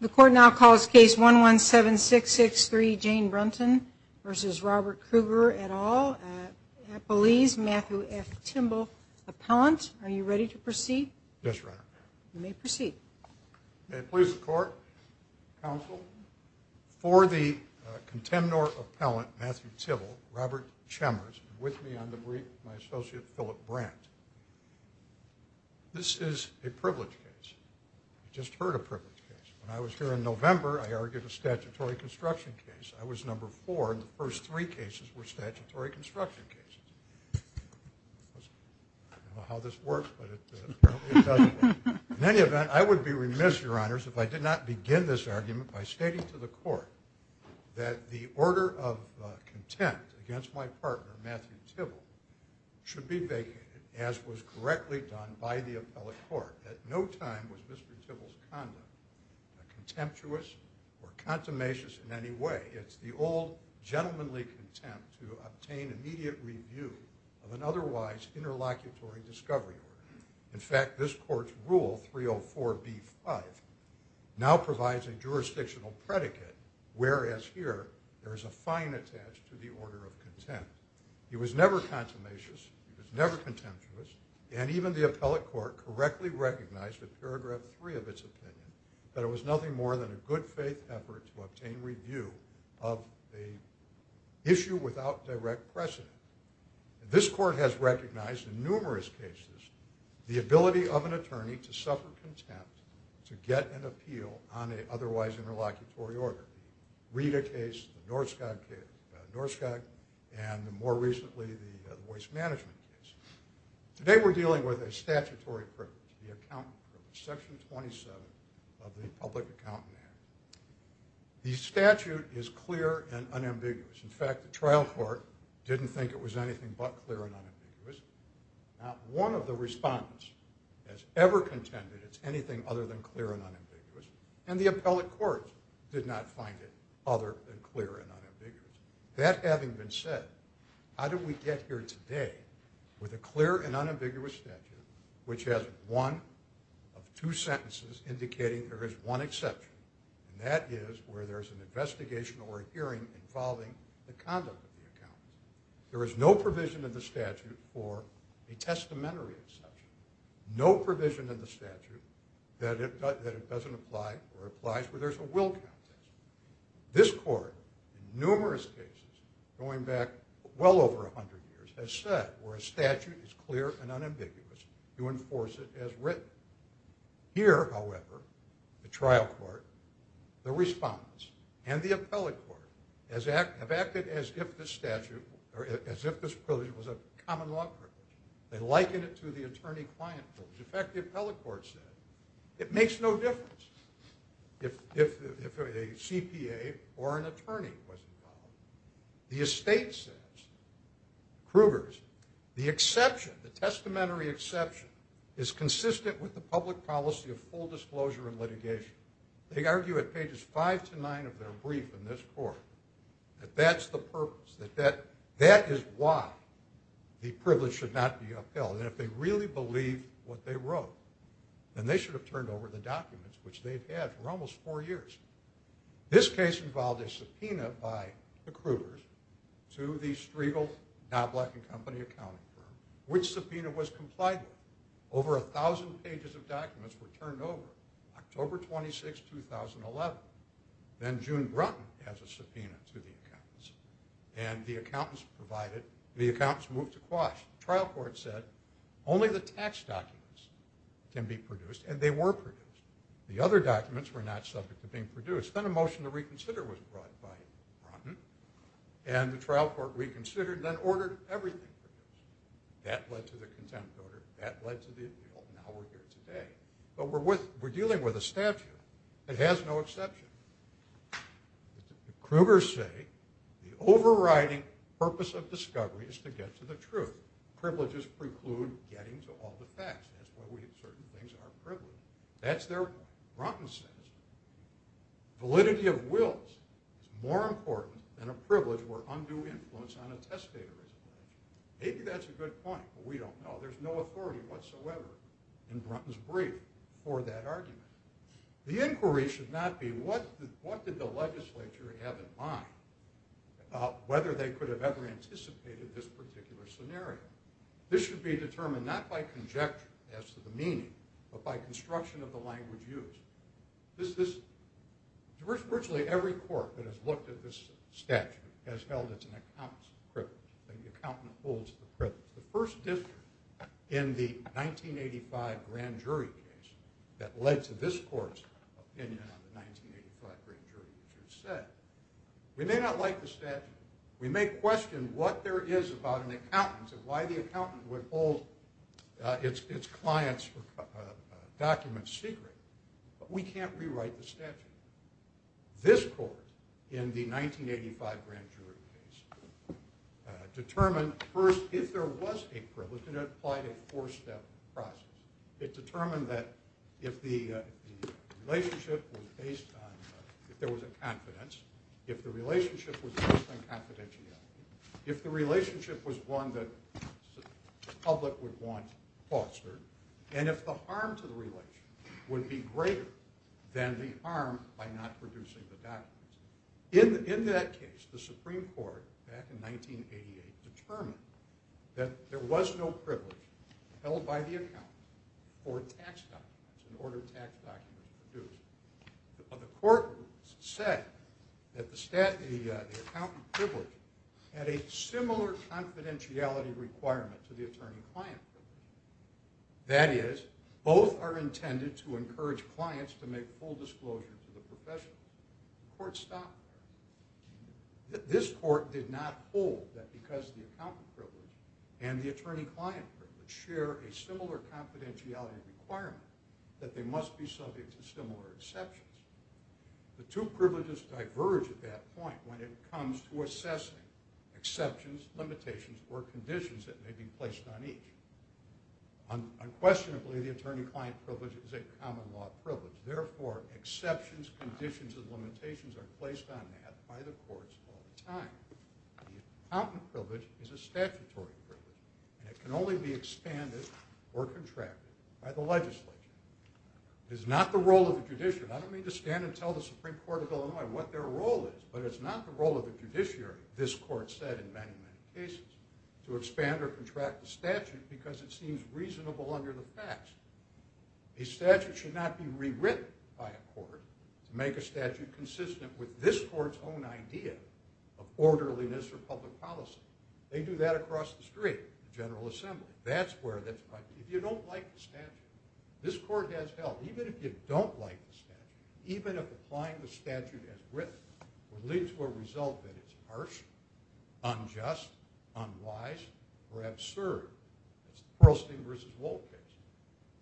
The court now calls case one one seven six six three Jane Brunton versus Robert Kruger et al. at Belize. Matthew F. Timble, appellant. Are you ready to proceed? Yes, Your Honor. You may proceed. May it please the court, counsel, for the contemnor appellant, Matthew Timble, Robert Chambers, and with me on the brief, my associate Philip Brandt. This is a privilege case. I just heard a privilege case. When I was here in November, I argued a statutory construction case. I was number four, and the first three cases were statutory construction cases. I don't know how this works, but it doesn't work. In any event, I would be remiss, Your Honors, if I did not begin this argument by stating to the court that the order of contempt against my partner, Matthew Timble, should be vacated, as was correctly done by the appellate court. At no time was Mr. Timble's conduct contemptuous or contumacious in any way. It's the old gentlemanly contempt to obtain immediate review of an otherwise interlocutory discovery. In fact, this court's rule, 304b5, now provides a jurisdictional predicate, whereas here, there is a fine attached to the order of contempt. He was never contumacious. He was never contemptuous, and even the appellate court correctly recognized in paragraph three of its opinion that it was nothing more than a good faith effort to obtain review of an issue without direct precedent. This court has recognized in numerous cases the ability of an attorney to suffer contempt to get an opinion, and more recently, the voice management case. Today, we're dealing with a statutory privilege, the accountant privilege, section 27 of the Public Accountant Act. The statute is clear and unambiguous. In fact, the trial court didn't think it was anything but clear and unambiguous. Not one of the respondents has ever contended it's anything other than clear and unambiguous, and the appellate court did not find it other than clear and unambiguous. That having been said, how did we get here today with a clear and unambiguous statute which has one of two sentences indicating there is one exception, and that is where there's an investigation or a hearing involving the conduct of the accountant. There is no provision in the statute for a testamentary exception, no provision in the statute that it doesn't apply or applies where there's a will contest. This court, in numerous cases going back well over 100 years, has said where a statute is clear and unambiguous, you enforce it as written. Here, however, the trial court, the respondents, and the appellate court have acted as if this privilege was a common law privilege. They liken it to the attorney-client privilege. In fact, the appellate court said it makes no difference if a CPA or an attorney was involved. The estate says, Krueger's, the exception, the testamentary exception is consistent with the public policy of full disclosure and litigation. They argue at pages five to nine of their brief in this court that that's the purpose, that that is why the privilege should not be upheld, and if they really believed what they wrote, then they should have turned over the documents, which they've had for almost four years. This case involved a subpoena by the Krueger's to the Striegel Now Black & Company accounting firm, which subpoena was complied with. Over a thousand pages of documents were turned over October 26, 2011. Then June Brunton has a subpoena to the tax documents can be produced, and they were produced. The other documents were not subject to being produced. Then a motion to reconsider was brought by Brunton, and the trial court reconsidered, then ordered everything produced. That led to the contempt order, that led to the appeal, and now we're here today. But we're dealing with a statute that has no exception. Krueger's say the overriding purpose of discovery is to get to the truth. Privileges preclude getting to all the facts. That's why we have certain things that are privileged. That's their point. Brunton says validity of wills is more important than a privilege where undue influence on a testator is alleged. Maybe that's a good point, but we don't know. There's no authority whatsoever in Brunton's brief for that argument. The inquiry should not be what did the legislature have in mind, whether they could have ever anticipated this particular scenario. This should be determined not by conjecture as to the meaning, but by construction of the language used. Virtually every court that has looked at this statute has held it an accomplice of privilege, and the accountant holds the privilege. The first district in the 1985 grand jury case that led to this court's opinion on the 1985 grand jury, which is said, we may not like the statute. We may question what there is about an accountant and why the accountant would hold its client's documents secret, but we can't rewrite the statute. This court in the 1985 grand jury case determined first, if there was a privilege, it applied a four-step process. It determined that if the relationship was based on, if there was a confidence, if the relationship was based on confidentiality, if the relationship was one that the public would want fostered, and if the harm to the relation would be greater than the harm by not producing the documents. In that case, the Supreme Court, back in 1988, determined that there was no that the accountant privilege had a similar confidentiality requirement to the attorney client. That is, both are intended to encourage clients to make full disclosure to the professional. The court stopped there. This court did not hold that because the accountant privilege and the attorney client privilege share a similar confidentiality requirement that they must be at that point when it comes to assessing exceptions, limitations, or conditions that may be placed on each. Unquestionably, the attorney client privilege is a common law privilege. Therefore, exceptions, conditions, and limitations are placed on that by the courts all the time. The accountant privilege is a statutory privilege, and it can only be expanded or contracted by the legislature. It is not the role of the judiciary. I don't mean to stand and tell the Supreme Court of Illinois what their role is, but it's not the role of the judiciary, this court said in many, many cases, to expand or contract the statute because it seems reasonable under the facts. A statute should not be rewritten by a court to make a statute consistent with this court's own idea of orderliness or public policy. They do that across the street, the General Assembly. If you don't like the statute, this court has help. Even if you don't like the statute, even if applying the statute as written would lead to a result that is harsh, unjust, unwise, or absurd, as the Pearlstein v. Wolk case,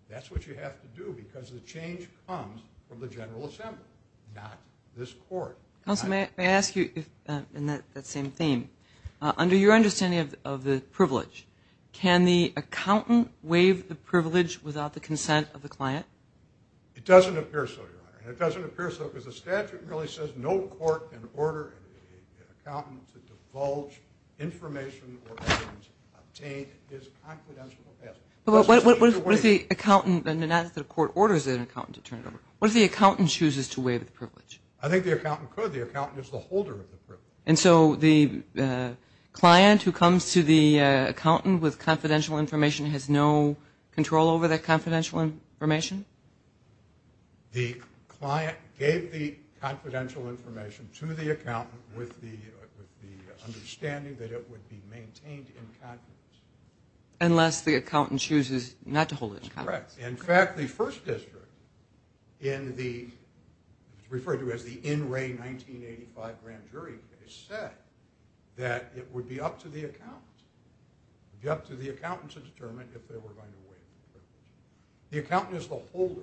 that's what you have to do because the change comes from the General Assembly, not this court. Counsel, may I ask you, in that same theme, under your understanding of the privilege, can the accountant waive the privilege without the statute? The statute says no court can order an accountant to divulge information or evidence obtained in his confidential capacity. What if the accountant chooses to waive the privilege? I think the accountant could. The accountant is the holder of the privilege. And so the client who comes to the accountant with confidential information has no control over that confidential information? The client gave the confidential information to the accountant with the understanding that it would be maintained in confidence. Unless the accountant chooses not to hold it in confidence. That's correct. In fact, the First District, referred to as the in-ray 1985 grand jury case, said that it would be up to the accountant. It would be up to the accountant to determine if they were going to waive the privilege. The accountant is the holder.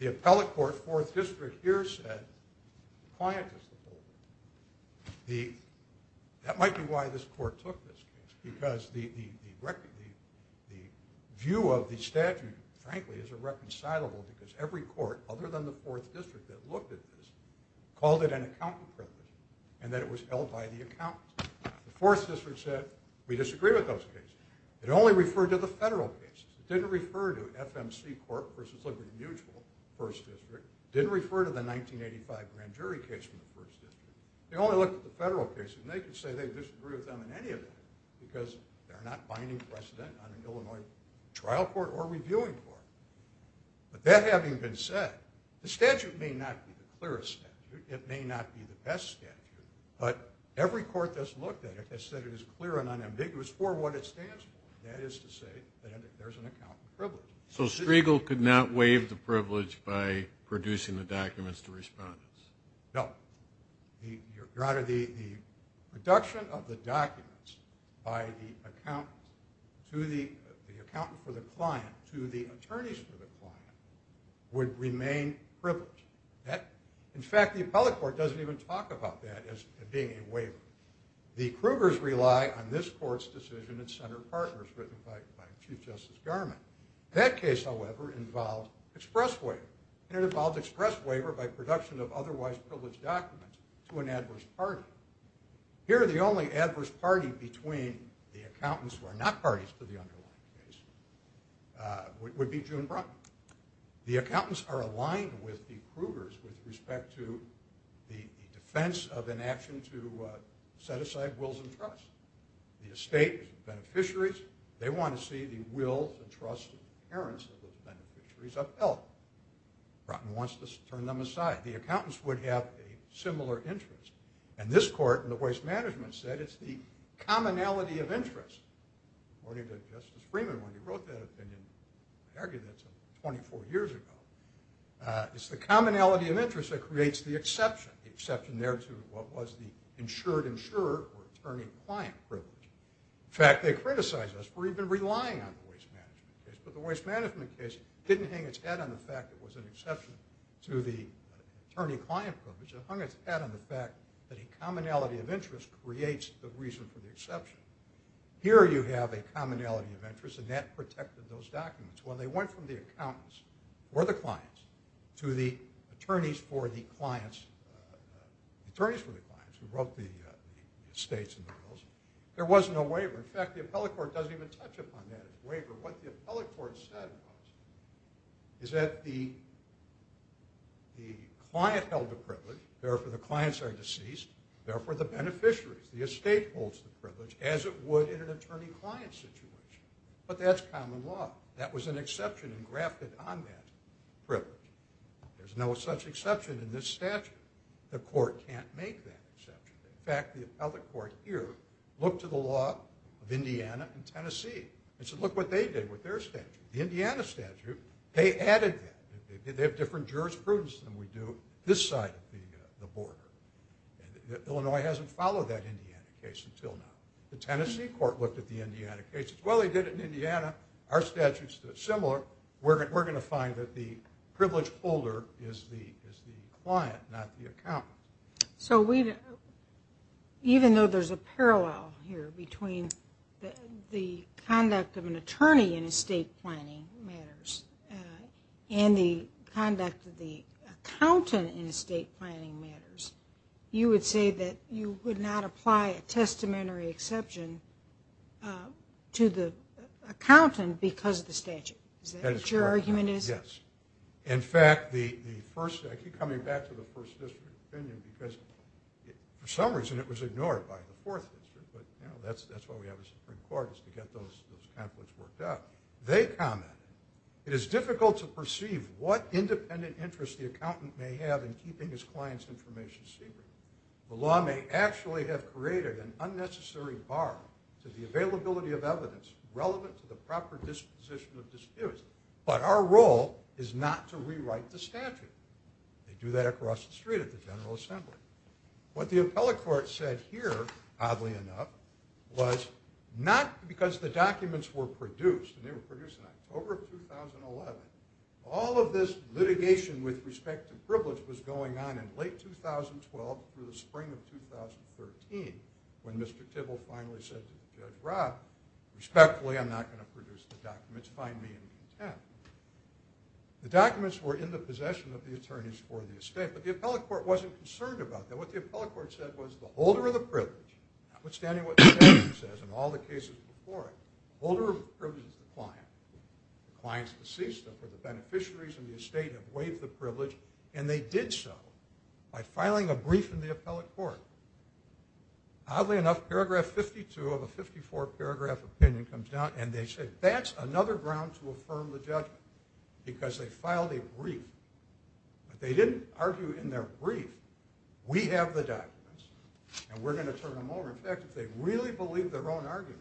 The appellate court, Fourth District, here said the client is the holder. That might be why this court took this case. Because the view of the statute, frankly, is irreconcilable because every court, other than the Fourth District that looked at this, called it an accountant privilege and that it was held by the accountant. The Fourth District said we disagree with those cases. It only referred to federal cases. It didn't refer to FMC court versus Liberty Mutual, First District. It didn't refer to the 1985 grand jury case from the First District. They only looked at the federal cases and they could say they disagree with them in any of them because they're not finding precedent on an Illinois trial court or reviewing court. But that having been said, the statute may not be the clearest statute. It may not be the best statute. But every court that's looked at it said it is clear and unambiguous for what it stands for. That is to say that there's an accountant privilege. So Striegel could not waive the privilege by producing the documents to respondents? No. The production of the documents by the accountant to the accountant for the client to the attorneys for the client would remain privileged. In fact, the appellate court doesn't talk about that as being a waiver. The Krugers rely on this court's decision and center partners written by Chief Justice Garment. That case, however, involved express waiver. It involved express waiver by production of otherwise privileged documents to an adverse party. Here, the only adverse party between the accountants who are not parties to the underlying case would be June Brunt. The accountants are aligned with the Krugers with respect to the defense of inaction to set aside wills and trusts. The estate beneficiaries, they want to see the wills and trusts of the parents of the beneficiaries upheld. Brunt wants to turn them aside. The accountants would have a similar interest. And this court in the waste management said it's the commonality of interest. According to Justice Freeman, when he wrote that opinion, I argue that's 24 years ago, it's the commonality of interest that creates the exception, the exception there to what was the insured insurer or attorney-client privilege. In fact, they criticized us for even relying on the waste management case. But the waste management case didn't hang its head on the fact it was an exception to the attorney-client privilege. It hung its head on the fact that a commonality of interest creates the reason for the exception. Here you have a commonality of interest, and that protected those documents. Well, they went from the accountants or the clients to the attorneys for the clients, attorneys for the clients who wrote the estates and the wills. There was no waiver. In fact, the appellate court doesn't even touch upon that waiver. What the appellate court said was is that the client held the privilege, therefore the clients are deceased, therefore the beneficiaries, the estate holds the privilege as it would in an attorney-client situation. But that's common law. That was an exception engrafted on that privilege. There's no such exception in this statute. The court can't make that exception. In fact, the appellate court here looked to the law of Indiana and Tennessee and said, look what they did with their statute. The Indiana statute, they added that. They have different jurisprudence than we do this side of the border. Illinois hasn't followed that Indiana case until now. The Tennessee court looked at the Indiana case and said, well, they did it in Indiana. Our statute's similar. We're going to find that the privilege holder is the client, not the accountant. So even though there's a parallel here between the conduct of an attorney in estate planning matters and the conduct of the accountant in estate planning matters, you would say that you would not apply a testamentary exception to the accountant because of the statute. Is that what your argument is? Yes. In fact, the first, I keep coming back to the first district opinion because for some reason it was ignored by the fourth district, but that's why we have a Supreme Court is to get those conflicts worked out. They commented, it is difficult to perceive what independent interest the accountant may have in keeping his client's information secret. The law may actually have created an unnecessary bar to the availability of evidence relevant to the proper disposition of disputes, but our role is not to rewrite the statute. They do that across the street at the General Assembly. What the appellate court said here, oddly enough, was not because the documents were produced, and they were produced in October of 2011, all of this litigation with respect to privilege was going on in late 2012 through the spring of 2013 when Mr. Tibble finally said to Judge Rob, respectfully, I'm not going to possession of the attorneys for the estate, but the appellate court wasn't concerned about that. What the appellate court said was the holder of the privilege, notwithstanding what the statute says in all the cases before it, the holder of the privilege is the client. The client's deceased, therefore the beneficiaries and the estate have waived the privilege, and they did so by filing a brief in the appellate court. Oddly enough, paragraph 52 of a 54-paragraph opinion comes out, and they said that's another ground to affirm the judgment, because they filed a brief, but they didn't argue in their brief, we have the documents, and we're going to turn them over. In fact, if they really believed their own argument,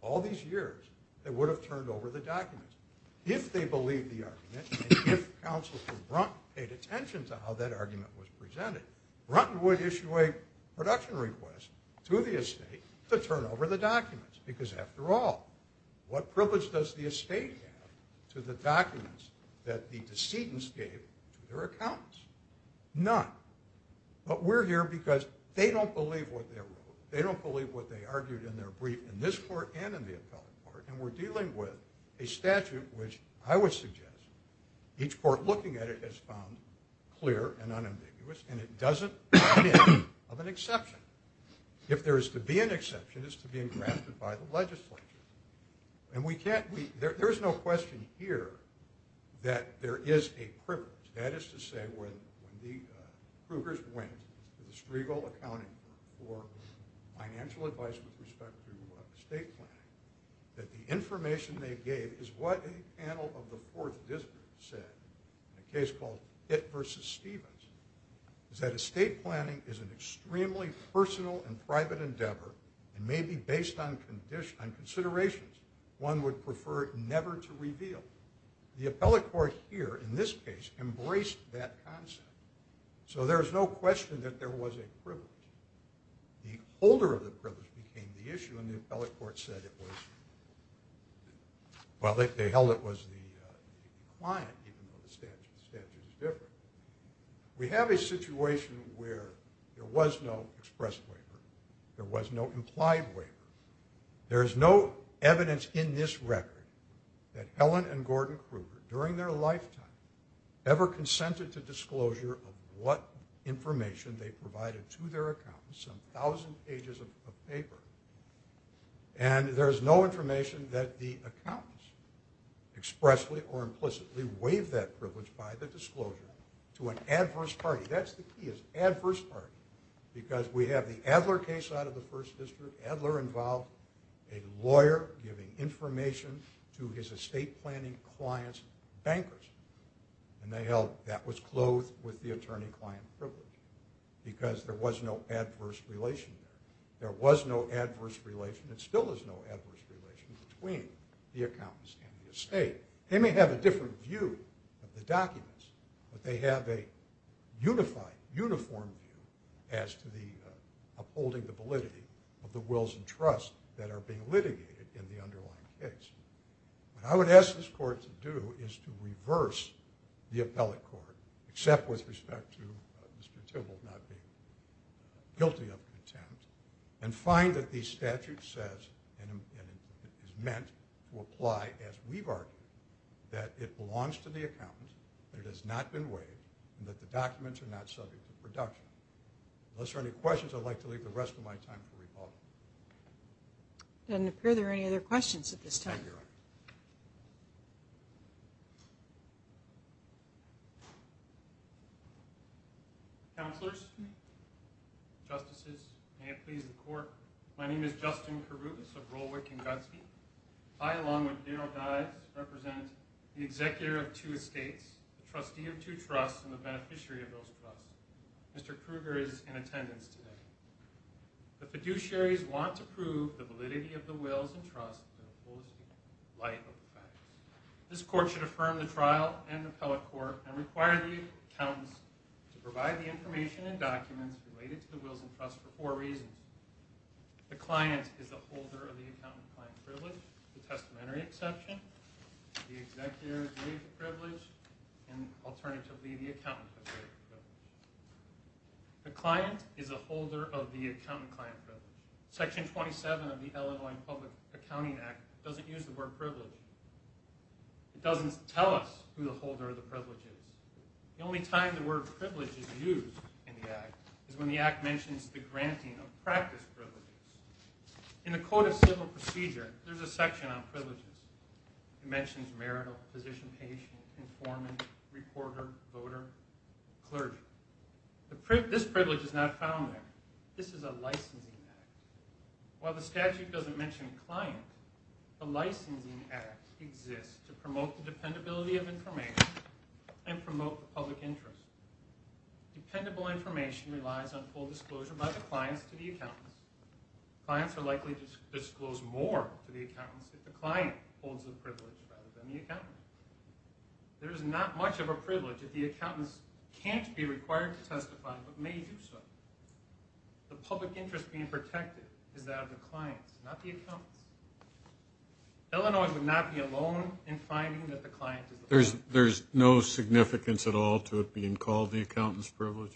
all these years, they would have turned over the documents. If they believed the argument, and if Councilman Brunt paid attention to how that argument was presented, Brunt would issue a production request to the estate to turn over the documents, because after all, what privilege does the estate have to the documents that the decedents gave to their accountants? None. But we're here because they don't believe what they wrote, they don't believe what they argued in their brief in this court and in the appellate court, and we're dealing with a statute which I would suggest, each court looking at it has found clear and unambiguous, and it doesn't come in of an exception. If there is to be an exception, it's to being drafted by the legislature. And we can't, there's no question here that there is a privilege, that is to say when the Krugers went to the Striegel Accounting Group for financial advice with respect to estate planning, that the information they gave is what a panel of the Fourth District said, in a case called Hitt v. Stevens, is that estate planning is an extremely personal and private endeavor, and may be based on considerations one would prefer never to reveal. The appellate court here, in this case, embraced that concept. So there's no question that there was a privilege. The holder of the privilege became the issue, and the appellate court said it was, well they held it was the client, even though the statute is different. We have a situation where there was no express waiver, there was no implied waiver, there is no evidence in this record that Helen and Gordon Kruger, during their lifetime, ever consented to disclosure of what information they provided to their accountants, some thousand pages of paper, and there is no information that the accountants expressly or implicitly gave that privilege by the disclosure to an adverse party. That's the key, is adverse party, because we have the Adler case out of the First District. Adler involved a lawyer giving information to his estate planning client's bankers, and they held that was clothed with the attorney-client privilege, because there was no adverse relation there. There was no adverse relation, and still is no adverse relation, between the accountants and the estate. They may have a different view of the documents, but they have a unified, uniform view as to the upholding the validity of the wills and trusts that are being litigated in the underlying case. What I would ask this court to do is to reverse the appellate court, except with respect to Mr. Tibble not being guilty of contempt, and find that the statute says and is meant to apply as we've argued, that it belongs to the accountants, that it has not been waived, and that the documents are not subject to production. Unless there are any questions, I'd like to leave the rest of my time for rebuttal. Doesn't appear there are any other questions at this time. Counselors, justices, may it please the court, my name is Justin Karubas of Rolwick and Gutsby. I, along with Daryl Dyes, represent the executor of two estates, the trustee of two trusts, and the beneficiary of those trusts. Mr. Kruger is in attendance today. The fiduciaries want to prove the validity of the wills and trusts. This court should affirm the trial and appellate court and require the accountants to provide the information and documents related to the wills and trusts for four reasons. The client is the holder of the accountant-client privilege, the testamentary exception, the executor's waived privilege, and alternatively the accountant-client privilege. The client is the holder of the accountant-client privilege. Section 27 of the Illinois Public Accounting Act doesn't use the word privilege. It doesn't tell us who the holder of the privilege is. The only time the word privilege is used in the act is when the act mentions the granting of practice privileges. In the Code of Civil Procedure, there's a section on privileges. It mentions marital, physician-patient, informant, reporter, voter, clergy. This privilege is not found there. This is a licensing act. While the statute doesn't mention a client, the licensing act exists to promote the dependability of information and promote the public interest. Dependable information relies on full disclosure by the clients to the accountants. Clients are likely to disclose more to the accountants if the client holds the privilege rather than the accountant. There is not much of a privilege if the accountants can't be required to testify but may do so. The public interest being protected is that of the clients, not the accountants. Illinois would not be alone in finding that the client is the public interest. There's no significance at all to it being called the accountant's privilege?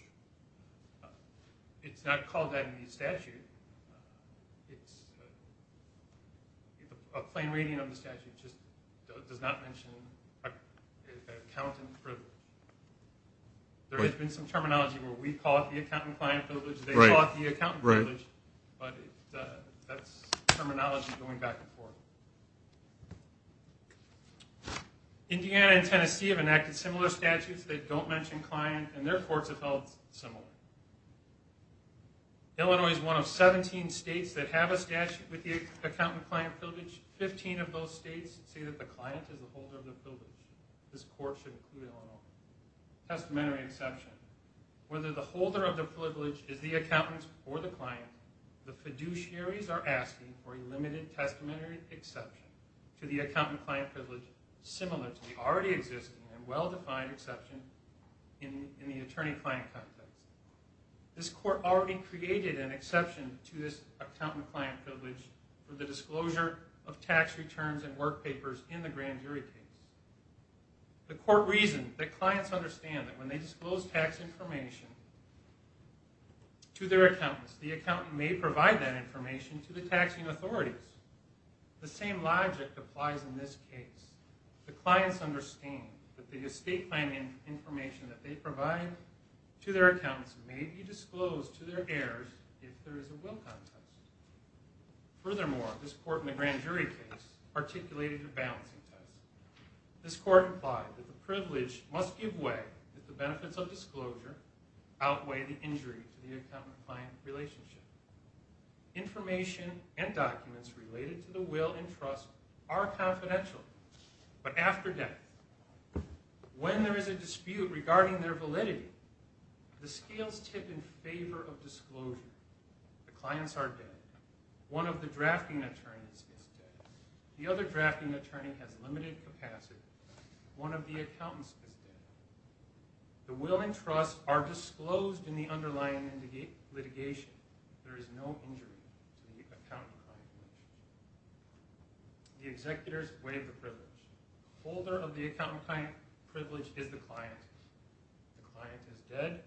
No, it's not called that in the statute. It's a plain reading of the statute. It just does not mention an accountant's privilege. There has been some terminology where we call it the accountant-client privilege, they call it the accountant privilege, but that's terminology going back and forth. Indiana and Tennessee have enacted similar statutes that don't mention client and their courts have held similar. Illinois is one of 17 states that have a statute with the accountant-client privilege. 15 of those states say that the client is the holder of the privilege. This court should include Illinois. Testamentary exception. Whether the holder of the privilege is the accountant or the client, the fiduciaries are asking for a limited testamentary exception to the accountant-client privilege similar to the already existing and well-defined exception in the attorney-client context. This court already created an exception to this accountant-client privilege for the disclosure of tax returns and work papers in the grand jury case. The court reasoned that clients understand that when they disclose tax information to their accountants, the accountant may provide that information to the taxing authorities. The same logic applies in this case. The clients understand that the estate planning information that they provide to their accountants may be disclosed to their heirs if there is a Wilcon test. Furthermore, this court in the grand jury case articulated a balancing test. This court implied that the privilege must give way that the benefits of disclosure outweigh the injury to the accountant-client relationship. Information and documents related to the will and trust are confidential, but after death, when there is a dispute regarding their validity, the scales tip in favor of disclosure. The clients are dead. One of the drafting attorneys is dead. The other drafting attorney has limited capacity. One of the accountants is dead. The will and trust are disclosed in underlying litigation. There is no injury to the accountant-client relationship. The executors waive the privilege. The holder of the accountant-client privilege is the client. The client is dead.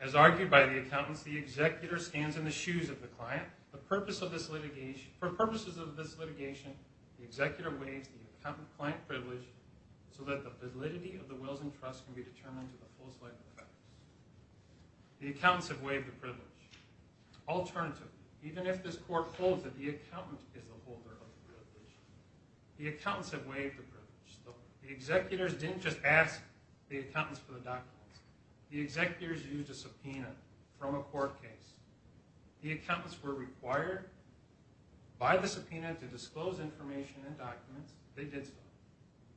As argued by the accountants, the executor stands in the shoes of the client. The purpose of this litigation, for purposes of this litigation, the executor waives the accountant-client privilege so that the validity of the wills and trusts can be determined to the accountants. The accountants have waived the privilege. Alternatively, even if this court holds that the accountant is the holder of the privilege, the accountants have waived the privilege. The executors didn't just ask the accountants for the documents. The executors used a subpoena from a court case. The accountants were required by the subpoena to disclose information and documents. They did so.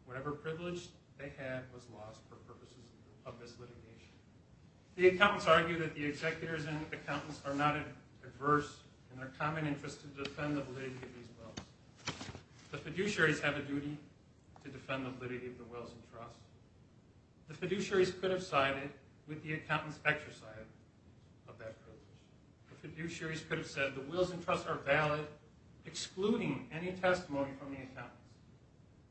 Whatever privilege they had was lost for purposes of this litigation. The executors and accountants are not adverse in their common interest to defend the validity of these wills. The fiduciaries have a duty to defend the validity of the wills and trusts. The fiduciaries could have sided with the accountants' exercise of that privilege. The fiduciaries could have said the wills and trusts are valid, excluding any testimony from the accountants.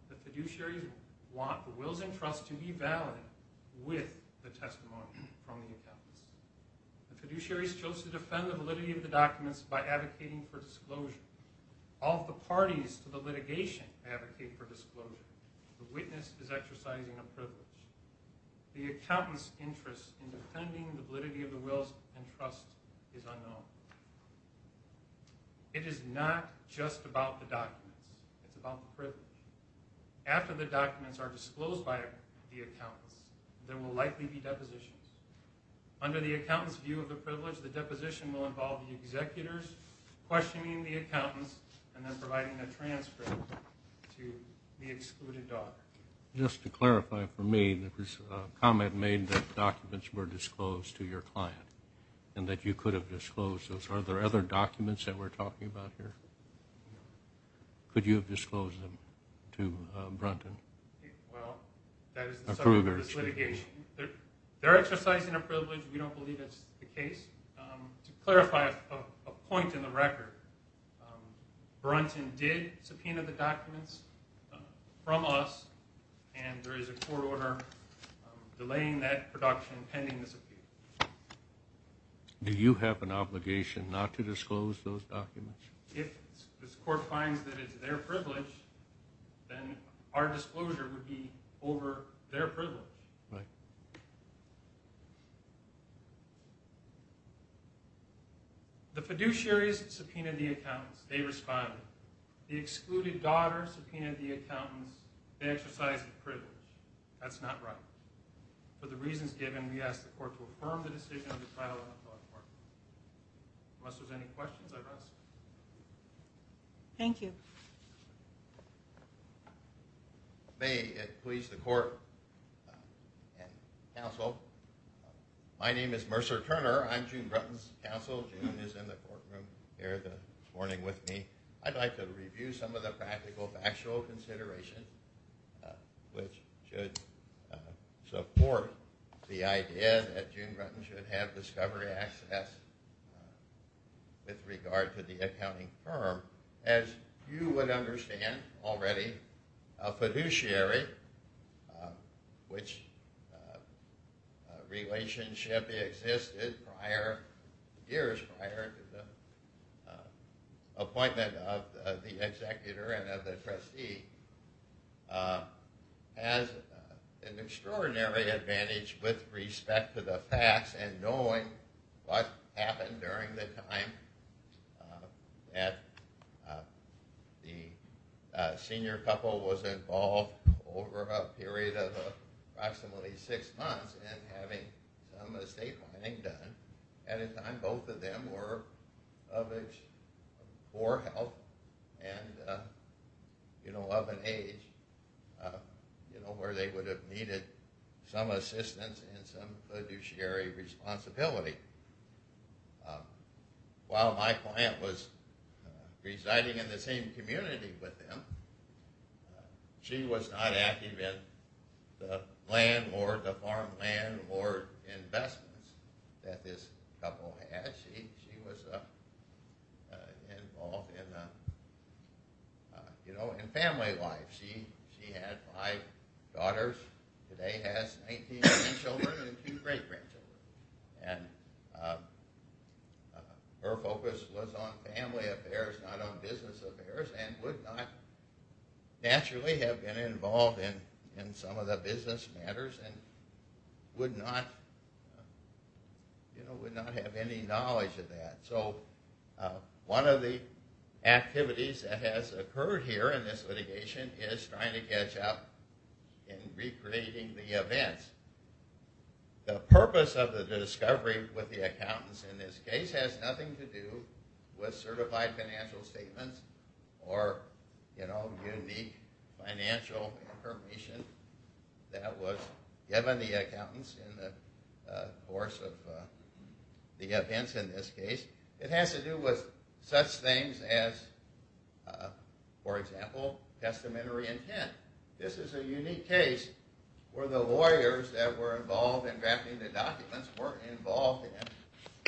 The fiduciaries want the wills and trusts to be valid with the testimony from the accountants. The fiduciaries chose to defend the validity of the documents by advocating for disclosure. All of the parties to the litigation advocate for disclosure. The witness is exercising a privilege. The accountant's interest in defending the validity of the wills and trusts is unknown. It is not just about the documents. It's about the privilege. After the documents are disclosed by the accountants, there will likely be depositions. Under the accountants' view of the privilege, the deposition will involve the executors questioning the accountants and then providing a transcript to the excluded doc. Just to clarify for me, there was a comment made that documents were disclosed to your client and that you could have disclosed those. Are there other documents that we're talking about here? Could you have disclosed them to Brunton? Well, that is the subject of this litigation. They're exercising a privilege. We don't believe it's the case. To clarify a point in the record, Brunton did subpoena the documents from us and there is a court order delaying that production pending this appeal. Do you have an obligation not to disclose those documents? If this court finds that it's their privilege, then our disclosure would be over their privilege. The fiduciaries subpoenaed the accountants. They responded. The excluded daughter subpoenaed the court. Unless there's any questions, I'd ask. Thank you. May it please the court and counsel, my name is Mercer Turner. I'm June Brunton's counsel. June is in the courtroom here this morning with me. I'd like to review some of the practical factual considerations which should support the idea that June Brunton should have discovery access with regard to the accounting firm. As you would understand already, a fiduciary which relationship existed prior years prior to the appointment of the executor and of the trustee has an extraordinary advantage with respect to the facts and knowing what happened during the time that the senior couple was involved over a period of approximately six months and having some estate planning done at a time both of them were of age or health and of an age where they would have needed some assistance and some fiduciary responsibility. While my client was residing in the same community with them, she was not active in the land or the farm land or investments that this couple had. She was involved in, you know, in family life. She had five daughters. Today has 19 children and two grandchildren. And her focus was on family affairs not on business affairs and would not naturally have been involved in some of the business matters and would not, you know, would not have any knowledge of that. So one of the activities that has occurred here in this litigation is trying to catch up in recreating the events. The purpose of the discovery with the accountants in this case has nothing to do with certified financial statements or, you know, unique financial information that was given the accountants in the course of the events in this case. It has to do with such things as, for example, testamentary intent. This is a unique case where the lawyers that were involved in drafting the documents weren't involved in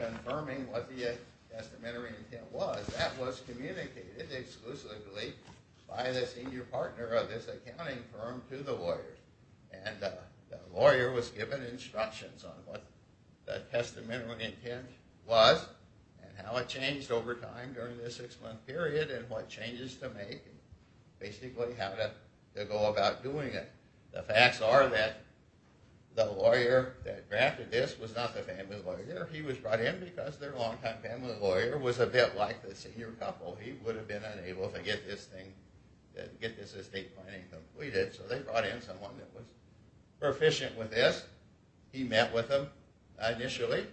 confirming what the testamentary intent was. That was communicated exclusively by the senior partner of this accounting firm to the lawyers. And the lawyer was given instructions on what the testamentary intent was and how it changed over time during the six-month period and what changes to make and basically how to go about doing it. The facts are that the lawyer that drafted this was not the family lawyer. He was brought in because their long-time family lawyer was a bit like the senior couple. He would have been unable to get this thing, get this estate planning completed. So they brought in someone that was proficient with this he met with him initially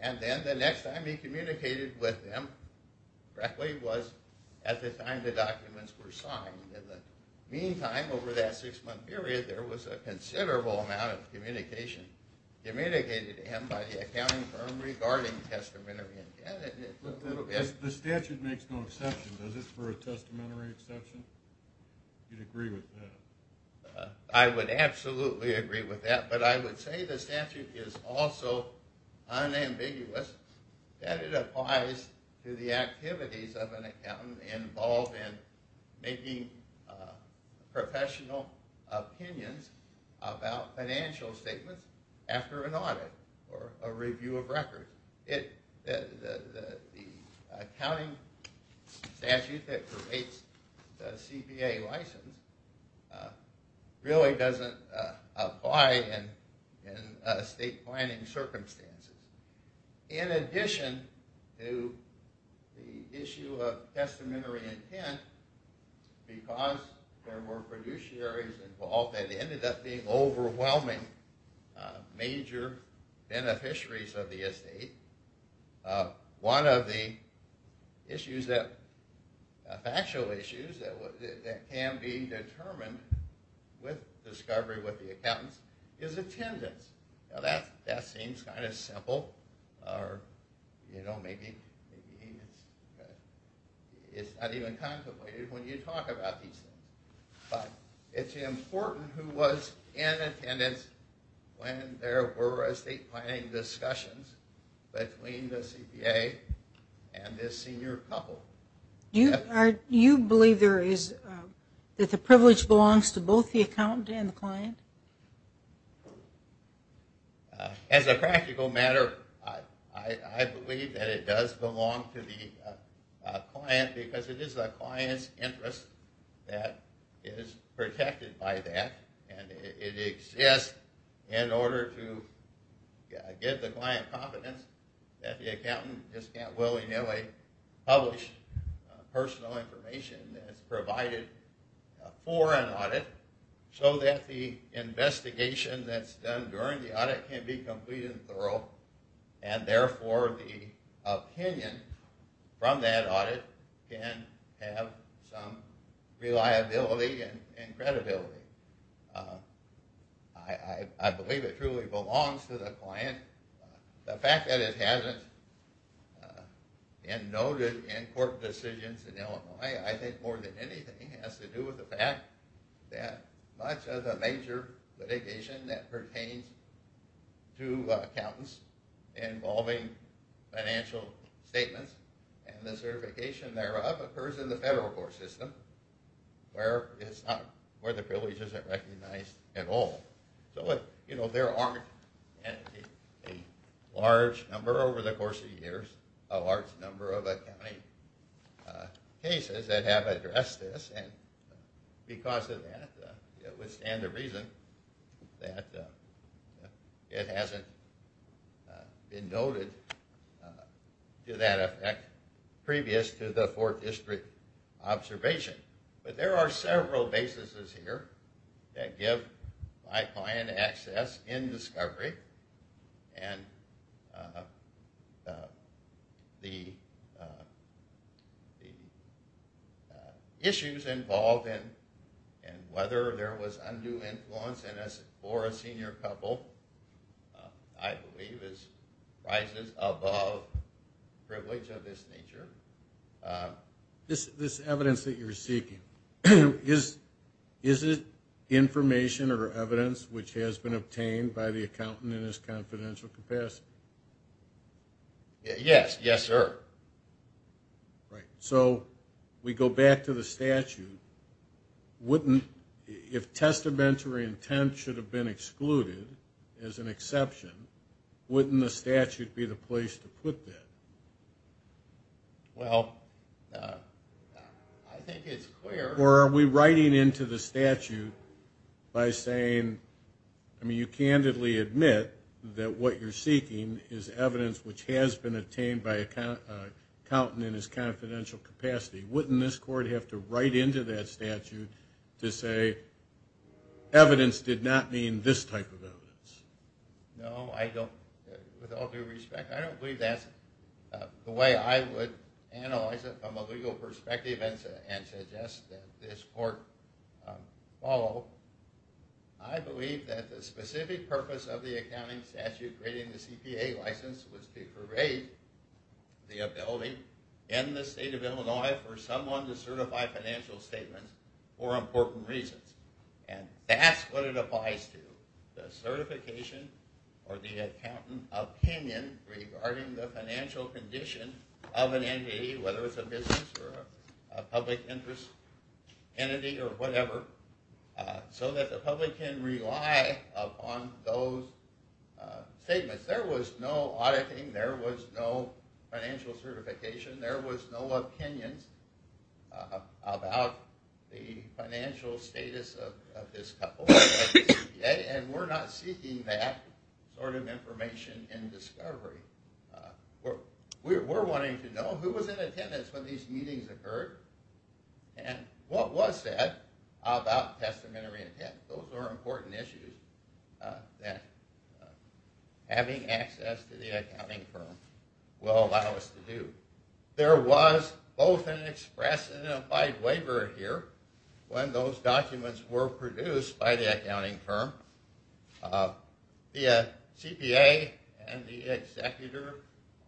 and then the next time he communicated with him frankly was at the time the documents were signed. In the meantime, over that six-month period, there was a considerable amount of communication communicated to him by the accounting firm regarding testamentary intent. The statute makes no exception, does it, for a testamentary exception? You'd agree with that? I would absolutely agree with that, but I would say the statute is also unambiguous that it applies to the activities of an accountant involved in making professional opinions about financial statements after an audit or a review of records. The accounting statute that creates the CPA license really doesn't apply in estate planning circumstances. In addition to the issue of testamentary intent, because there were fiduciaries involved that were involved, one of the issues that can be determined with discovery with the accountants is attendance. Now that seems kind of simple or maybe it's not even contemplated when you talk about these things, but it's important who was in attendance when there were estate planning discussions between the CPA and this senior couple. Do you believe that the privilege belongs to both the accountant and the client? As a practical matter, I believe that it does belong to the client because it is the client's interest that is protected by that and it exists in order to give the client confidence that the accountant just can't willy-nilly publish personal information that's provided for an audit so that the investigation that's done during the audit can be complete and thorough and therefore the opinion from that audit can have some reliability and credibility. I believe it truly belongs to the client. The fact that it hasn't and noted in court decisions in Illinois, I think more than anything has to do with the fact that much of the major litigation that pertains to accountants involving financial statements and the certification thereof occurs in the federal court system where it's not where the privilege isn't recognized at all so it you know there aren't a large number over the course of years a large number of accounting cases that have addressed this and because of that it would stand to reason that it hasn't been noted to that effect previous to the fourth district observation but there are several bases here that give my client access in discovery and the issues involved in and whether there was undue influence in this for a senior couple I believe is rises above privilege of this nature. This evidence that you're seeking is it information or evidence which has been obtained by the accountant in his confidential capacity? Yes, yes sir. Right so we go back to the statute wouldn't if testamentary intent should have been excluded as an exception wouldn't the statute be the place to put that? Well I think it's clear. Or are we writing into the statute by saying I mean you candidly admit that what you're seeking is evidence which has been obtained by a accountant in his confidential capacity wouldn't this court have to write into that statute to say evidence did not mean this type of evidence? No I don't with all due respect I don't believe that's the way I would analyze it from a legal perspective and suggest that this court follow. I believe that the specific purpose of the accounting statute creating the CPA license was to create the ability in the state of Illinois for someone to certify financial statements for important reasons and that's what it applies to the certification or the accountant opinion regarding the financial condition of an entity whether it's a business or a public interest entity or whatever so that the public can rely upon those statements. There was no auditing there was no financial certification there was no opinions about the financial status of this couple and we're not seeking that sort of information in discovery. We're wanting to know who was in attendance when these meetings occurred and what was said about testamentary intent those are important issues that having access to the accounting firm will allow us to do. There was both an express and an applied waiver here when those documents were produced by the accounting firm. The CPA and the executor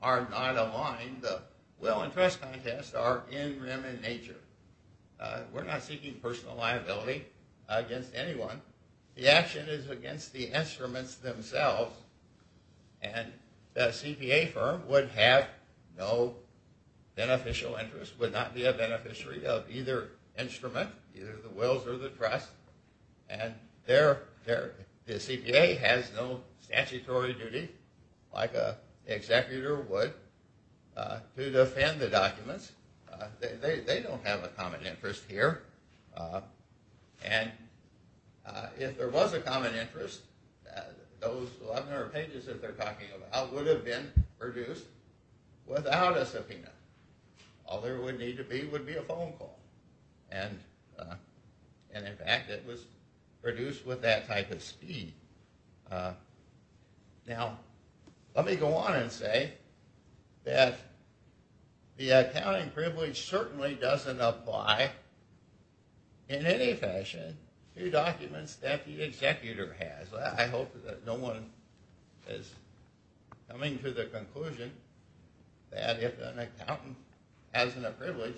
are not aligned the will and trust contests are in rem in nature. We're not seeking personal against anyone. The action is against the instruments themselves and the CPA firm would have no beneficial interest would not be a beneficiary of either instrument either the wills or the trust and there the CPA has no statutory duty like a executor would to defend the documents. They don't have a common interest here and if there was a common interest those 11 or pages that they're talking about would have been produced without a subpoena. All there would need to be would be a phone call and in fact it was that the accounting privilege certainly doesn't apply in any fashion to documents that the executor has. I hope that no one is coming to the conclusion that if an accountant hasn't a privilege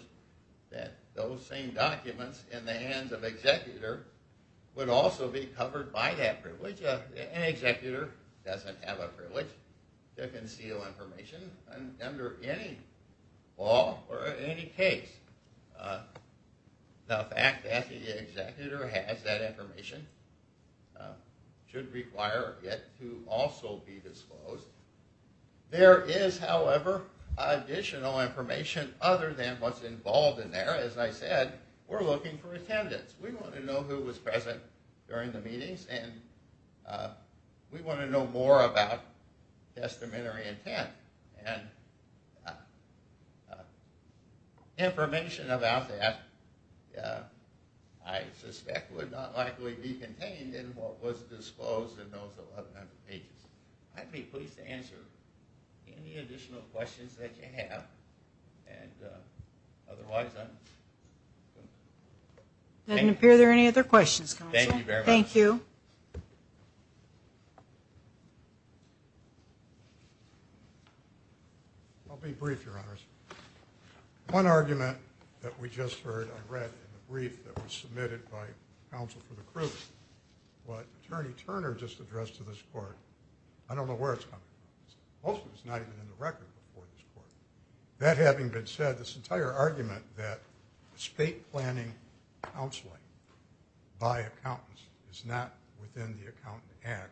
that those same documents in the hands of executor would also be covered by that privilege. An executor doesn't have a privilege to conceal information and under any law or any case the fact that the executor has that information should require it to also be disclosed. There is however additional information other than what's involved in there as I said we're looking for attendance. We want to know who was present during the meetings and we want to know more about testamentary intent and information about that I suspect would not likely be contained in what was disclosed in those 11 pages. I'd be pleased to answer any additional questions that you have and otherwise. Doesn't appear there any other questions. Thank you very much. Thank you. I'll be brief your honors. One argument that we just heard I read in the brief that was submitted by counsel for the proof what attorney Turner just addressed to this court. I don't know where most of it's not even in the record before this court. That having been said this entire argument that state planning counseling by accountants is not within the accountant act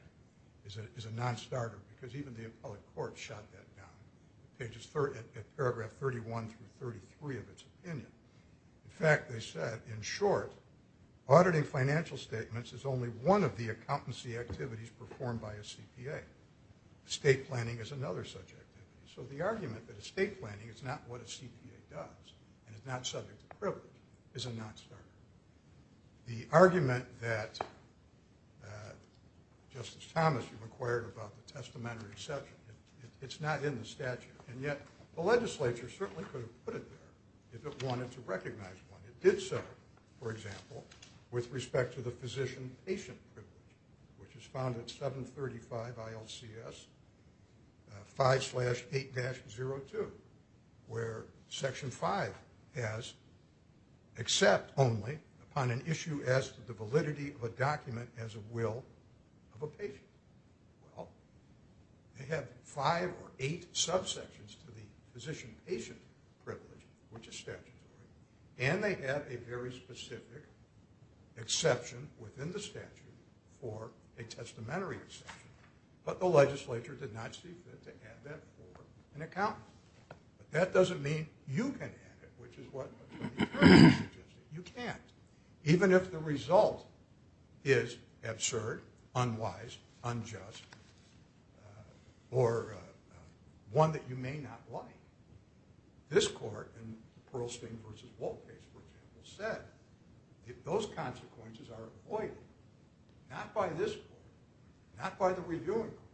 is a non-starter because even the appellate court shut that down. Pages 30 at paragraph 31 through 33 of its opinion in fact they said in short auditing financial statements is only one of the accountancy activities performed by a CPA. State planning is another subject so the argument that estate planning is not what a CPA does and it's not subject to privilege is a non-starter. The argument that Justice Thomas you've inquired about the testamentary section it's not in the statute and yet the legislature certainly could have put it there if it wanted to recognize one. It did so for example with respect to the physician patient privilege which is found at 735 ILCS 5-8-02 where section 5 has except only upon an issue as to the validity of a document as a will of a patient. Well they have five or eight subsections to the physician patient privilege which is statutory and they have a very specific exception within the statute for a testamentary exception but the legislature did not see fit to add that for an accountant. That doesn't mean you can add it which is what you can't even if the result is absurd, unwise, unjust or one that you may not like. This court in the Pearlstein versus Walt case for example said if those consequences are avoided not by this court not by the reviewing courts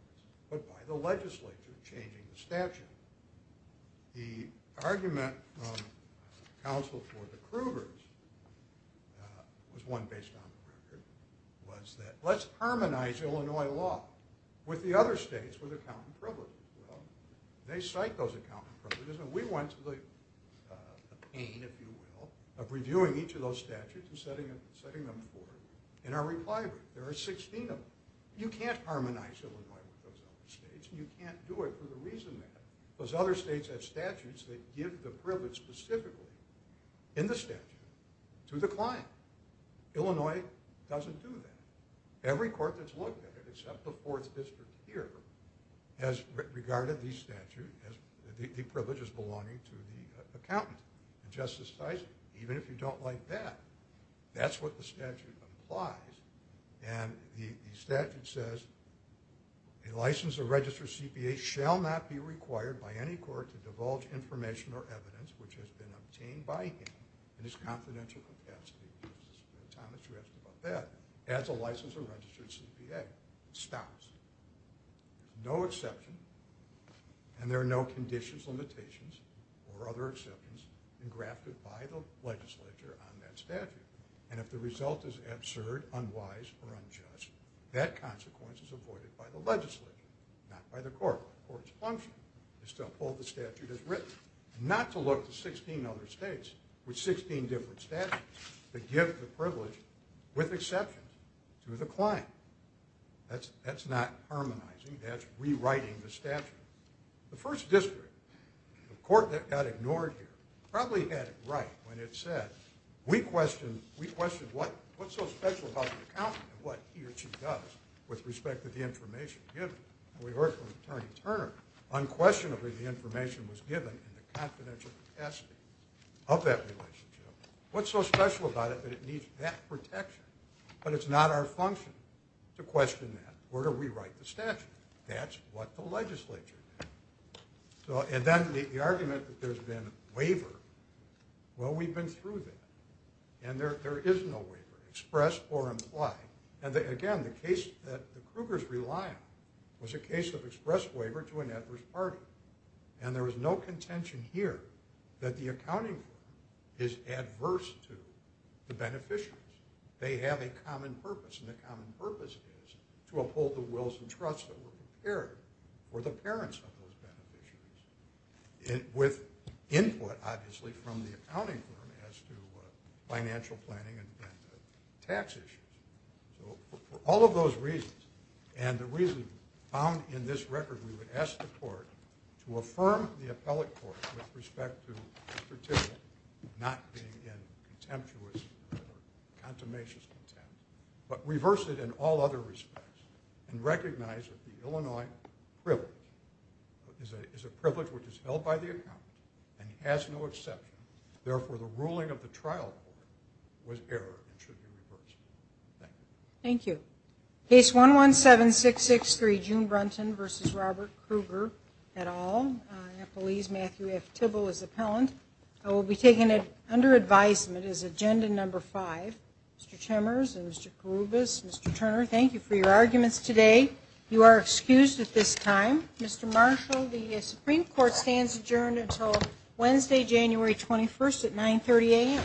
but by the legislature changing the statute. The argument from counsel for the Krugers was one based on was that let's harmonize Illinois law with the other states with accountant privilege. They cite those accountant privileges and we went to the pain if you will of reviewing each of those statutes and setting them forward in our reply. There are 16 of them. You can't harmonize Illinois with those other states and you can't do it for the reason that those other states have privilege specifically in the statute to the client. Illinois doesn't do that. Every court that's looked at it except the fourth district here has regarded the statute as the privilege is belonging to the accountant and Justice Tyson even if you don't like that that's what the statute applies and the statute says a license of registered CPA shall not be required by any court to divulge information or evidence which has been obtained by him in his confidential capacity. Thomas you asked about that. As a license of registered CPA stops no exception and there are no conditions limitations or other exceptions engrafted by the legislature on that statute and if the result is absurd unwise or unjust that consequence is avoided by the statute as written. Not to look to 16 other states with 16 different statutes that give the privilege with exceptions to the client. That's not harmonizing that's rewriting the statute. The first district the court that got ignored here probably had it right when it said we questioned what's so special about the accountant and what he or she does with respect to the information was given in the confidential capacity of that relationship what's so special about it that it needs that protection but it's not our function to question that or to rewrite the statute that's what the legislature did. So and then the argument that there's been waiver well we've been through that and there there is no waiver express or implied and again the case that the Krugers rely on was a case of express waiver to an adverse party and there is no contention here that the accounting firm is adverse to the beneficiaries. They have a common purpose and the common purpose is to uphold the wills and trusts that were prepared for the parents of those beneficiaries and with input obviously from the accounting firm as to financial planning and tax issues. So for all of those reasons and the reason found in this record we would ask the court to affirm the appellate court with respect to Mr. Tibbett not being in contemptuous or contemmatious contempt but reverse it in all other respects and recognize that the Illinois privilege is a privilege which is held by the account and he has no exception therefore the ruling of the court should be reversed. Thank you. Thank you. Case 117663 June Brunton versus Robert Kruger et al. Nepalese Matthew F Tibble is appellant. I will be taking it under advisement as agenda number five. Mr. Chimmers and Mr. Kouroubis, Mr. Turner thank you for your arguments today. You are excused at this time. Mr. Marshall the Supreme Court stands adjourned until Wednesday January 21st at 9 30 a.m.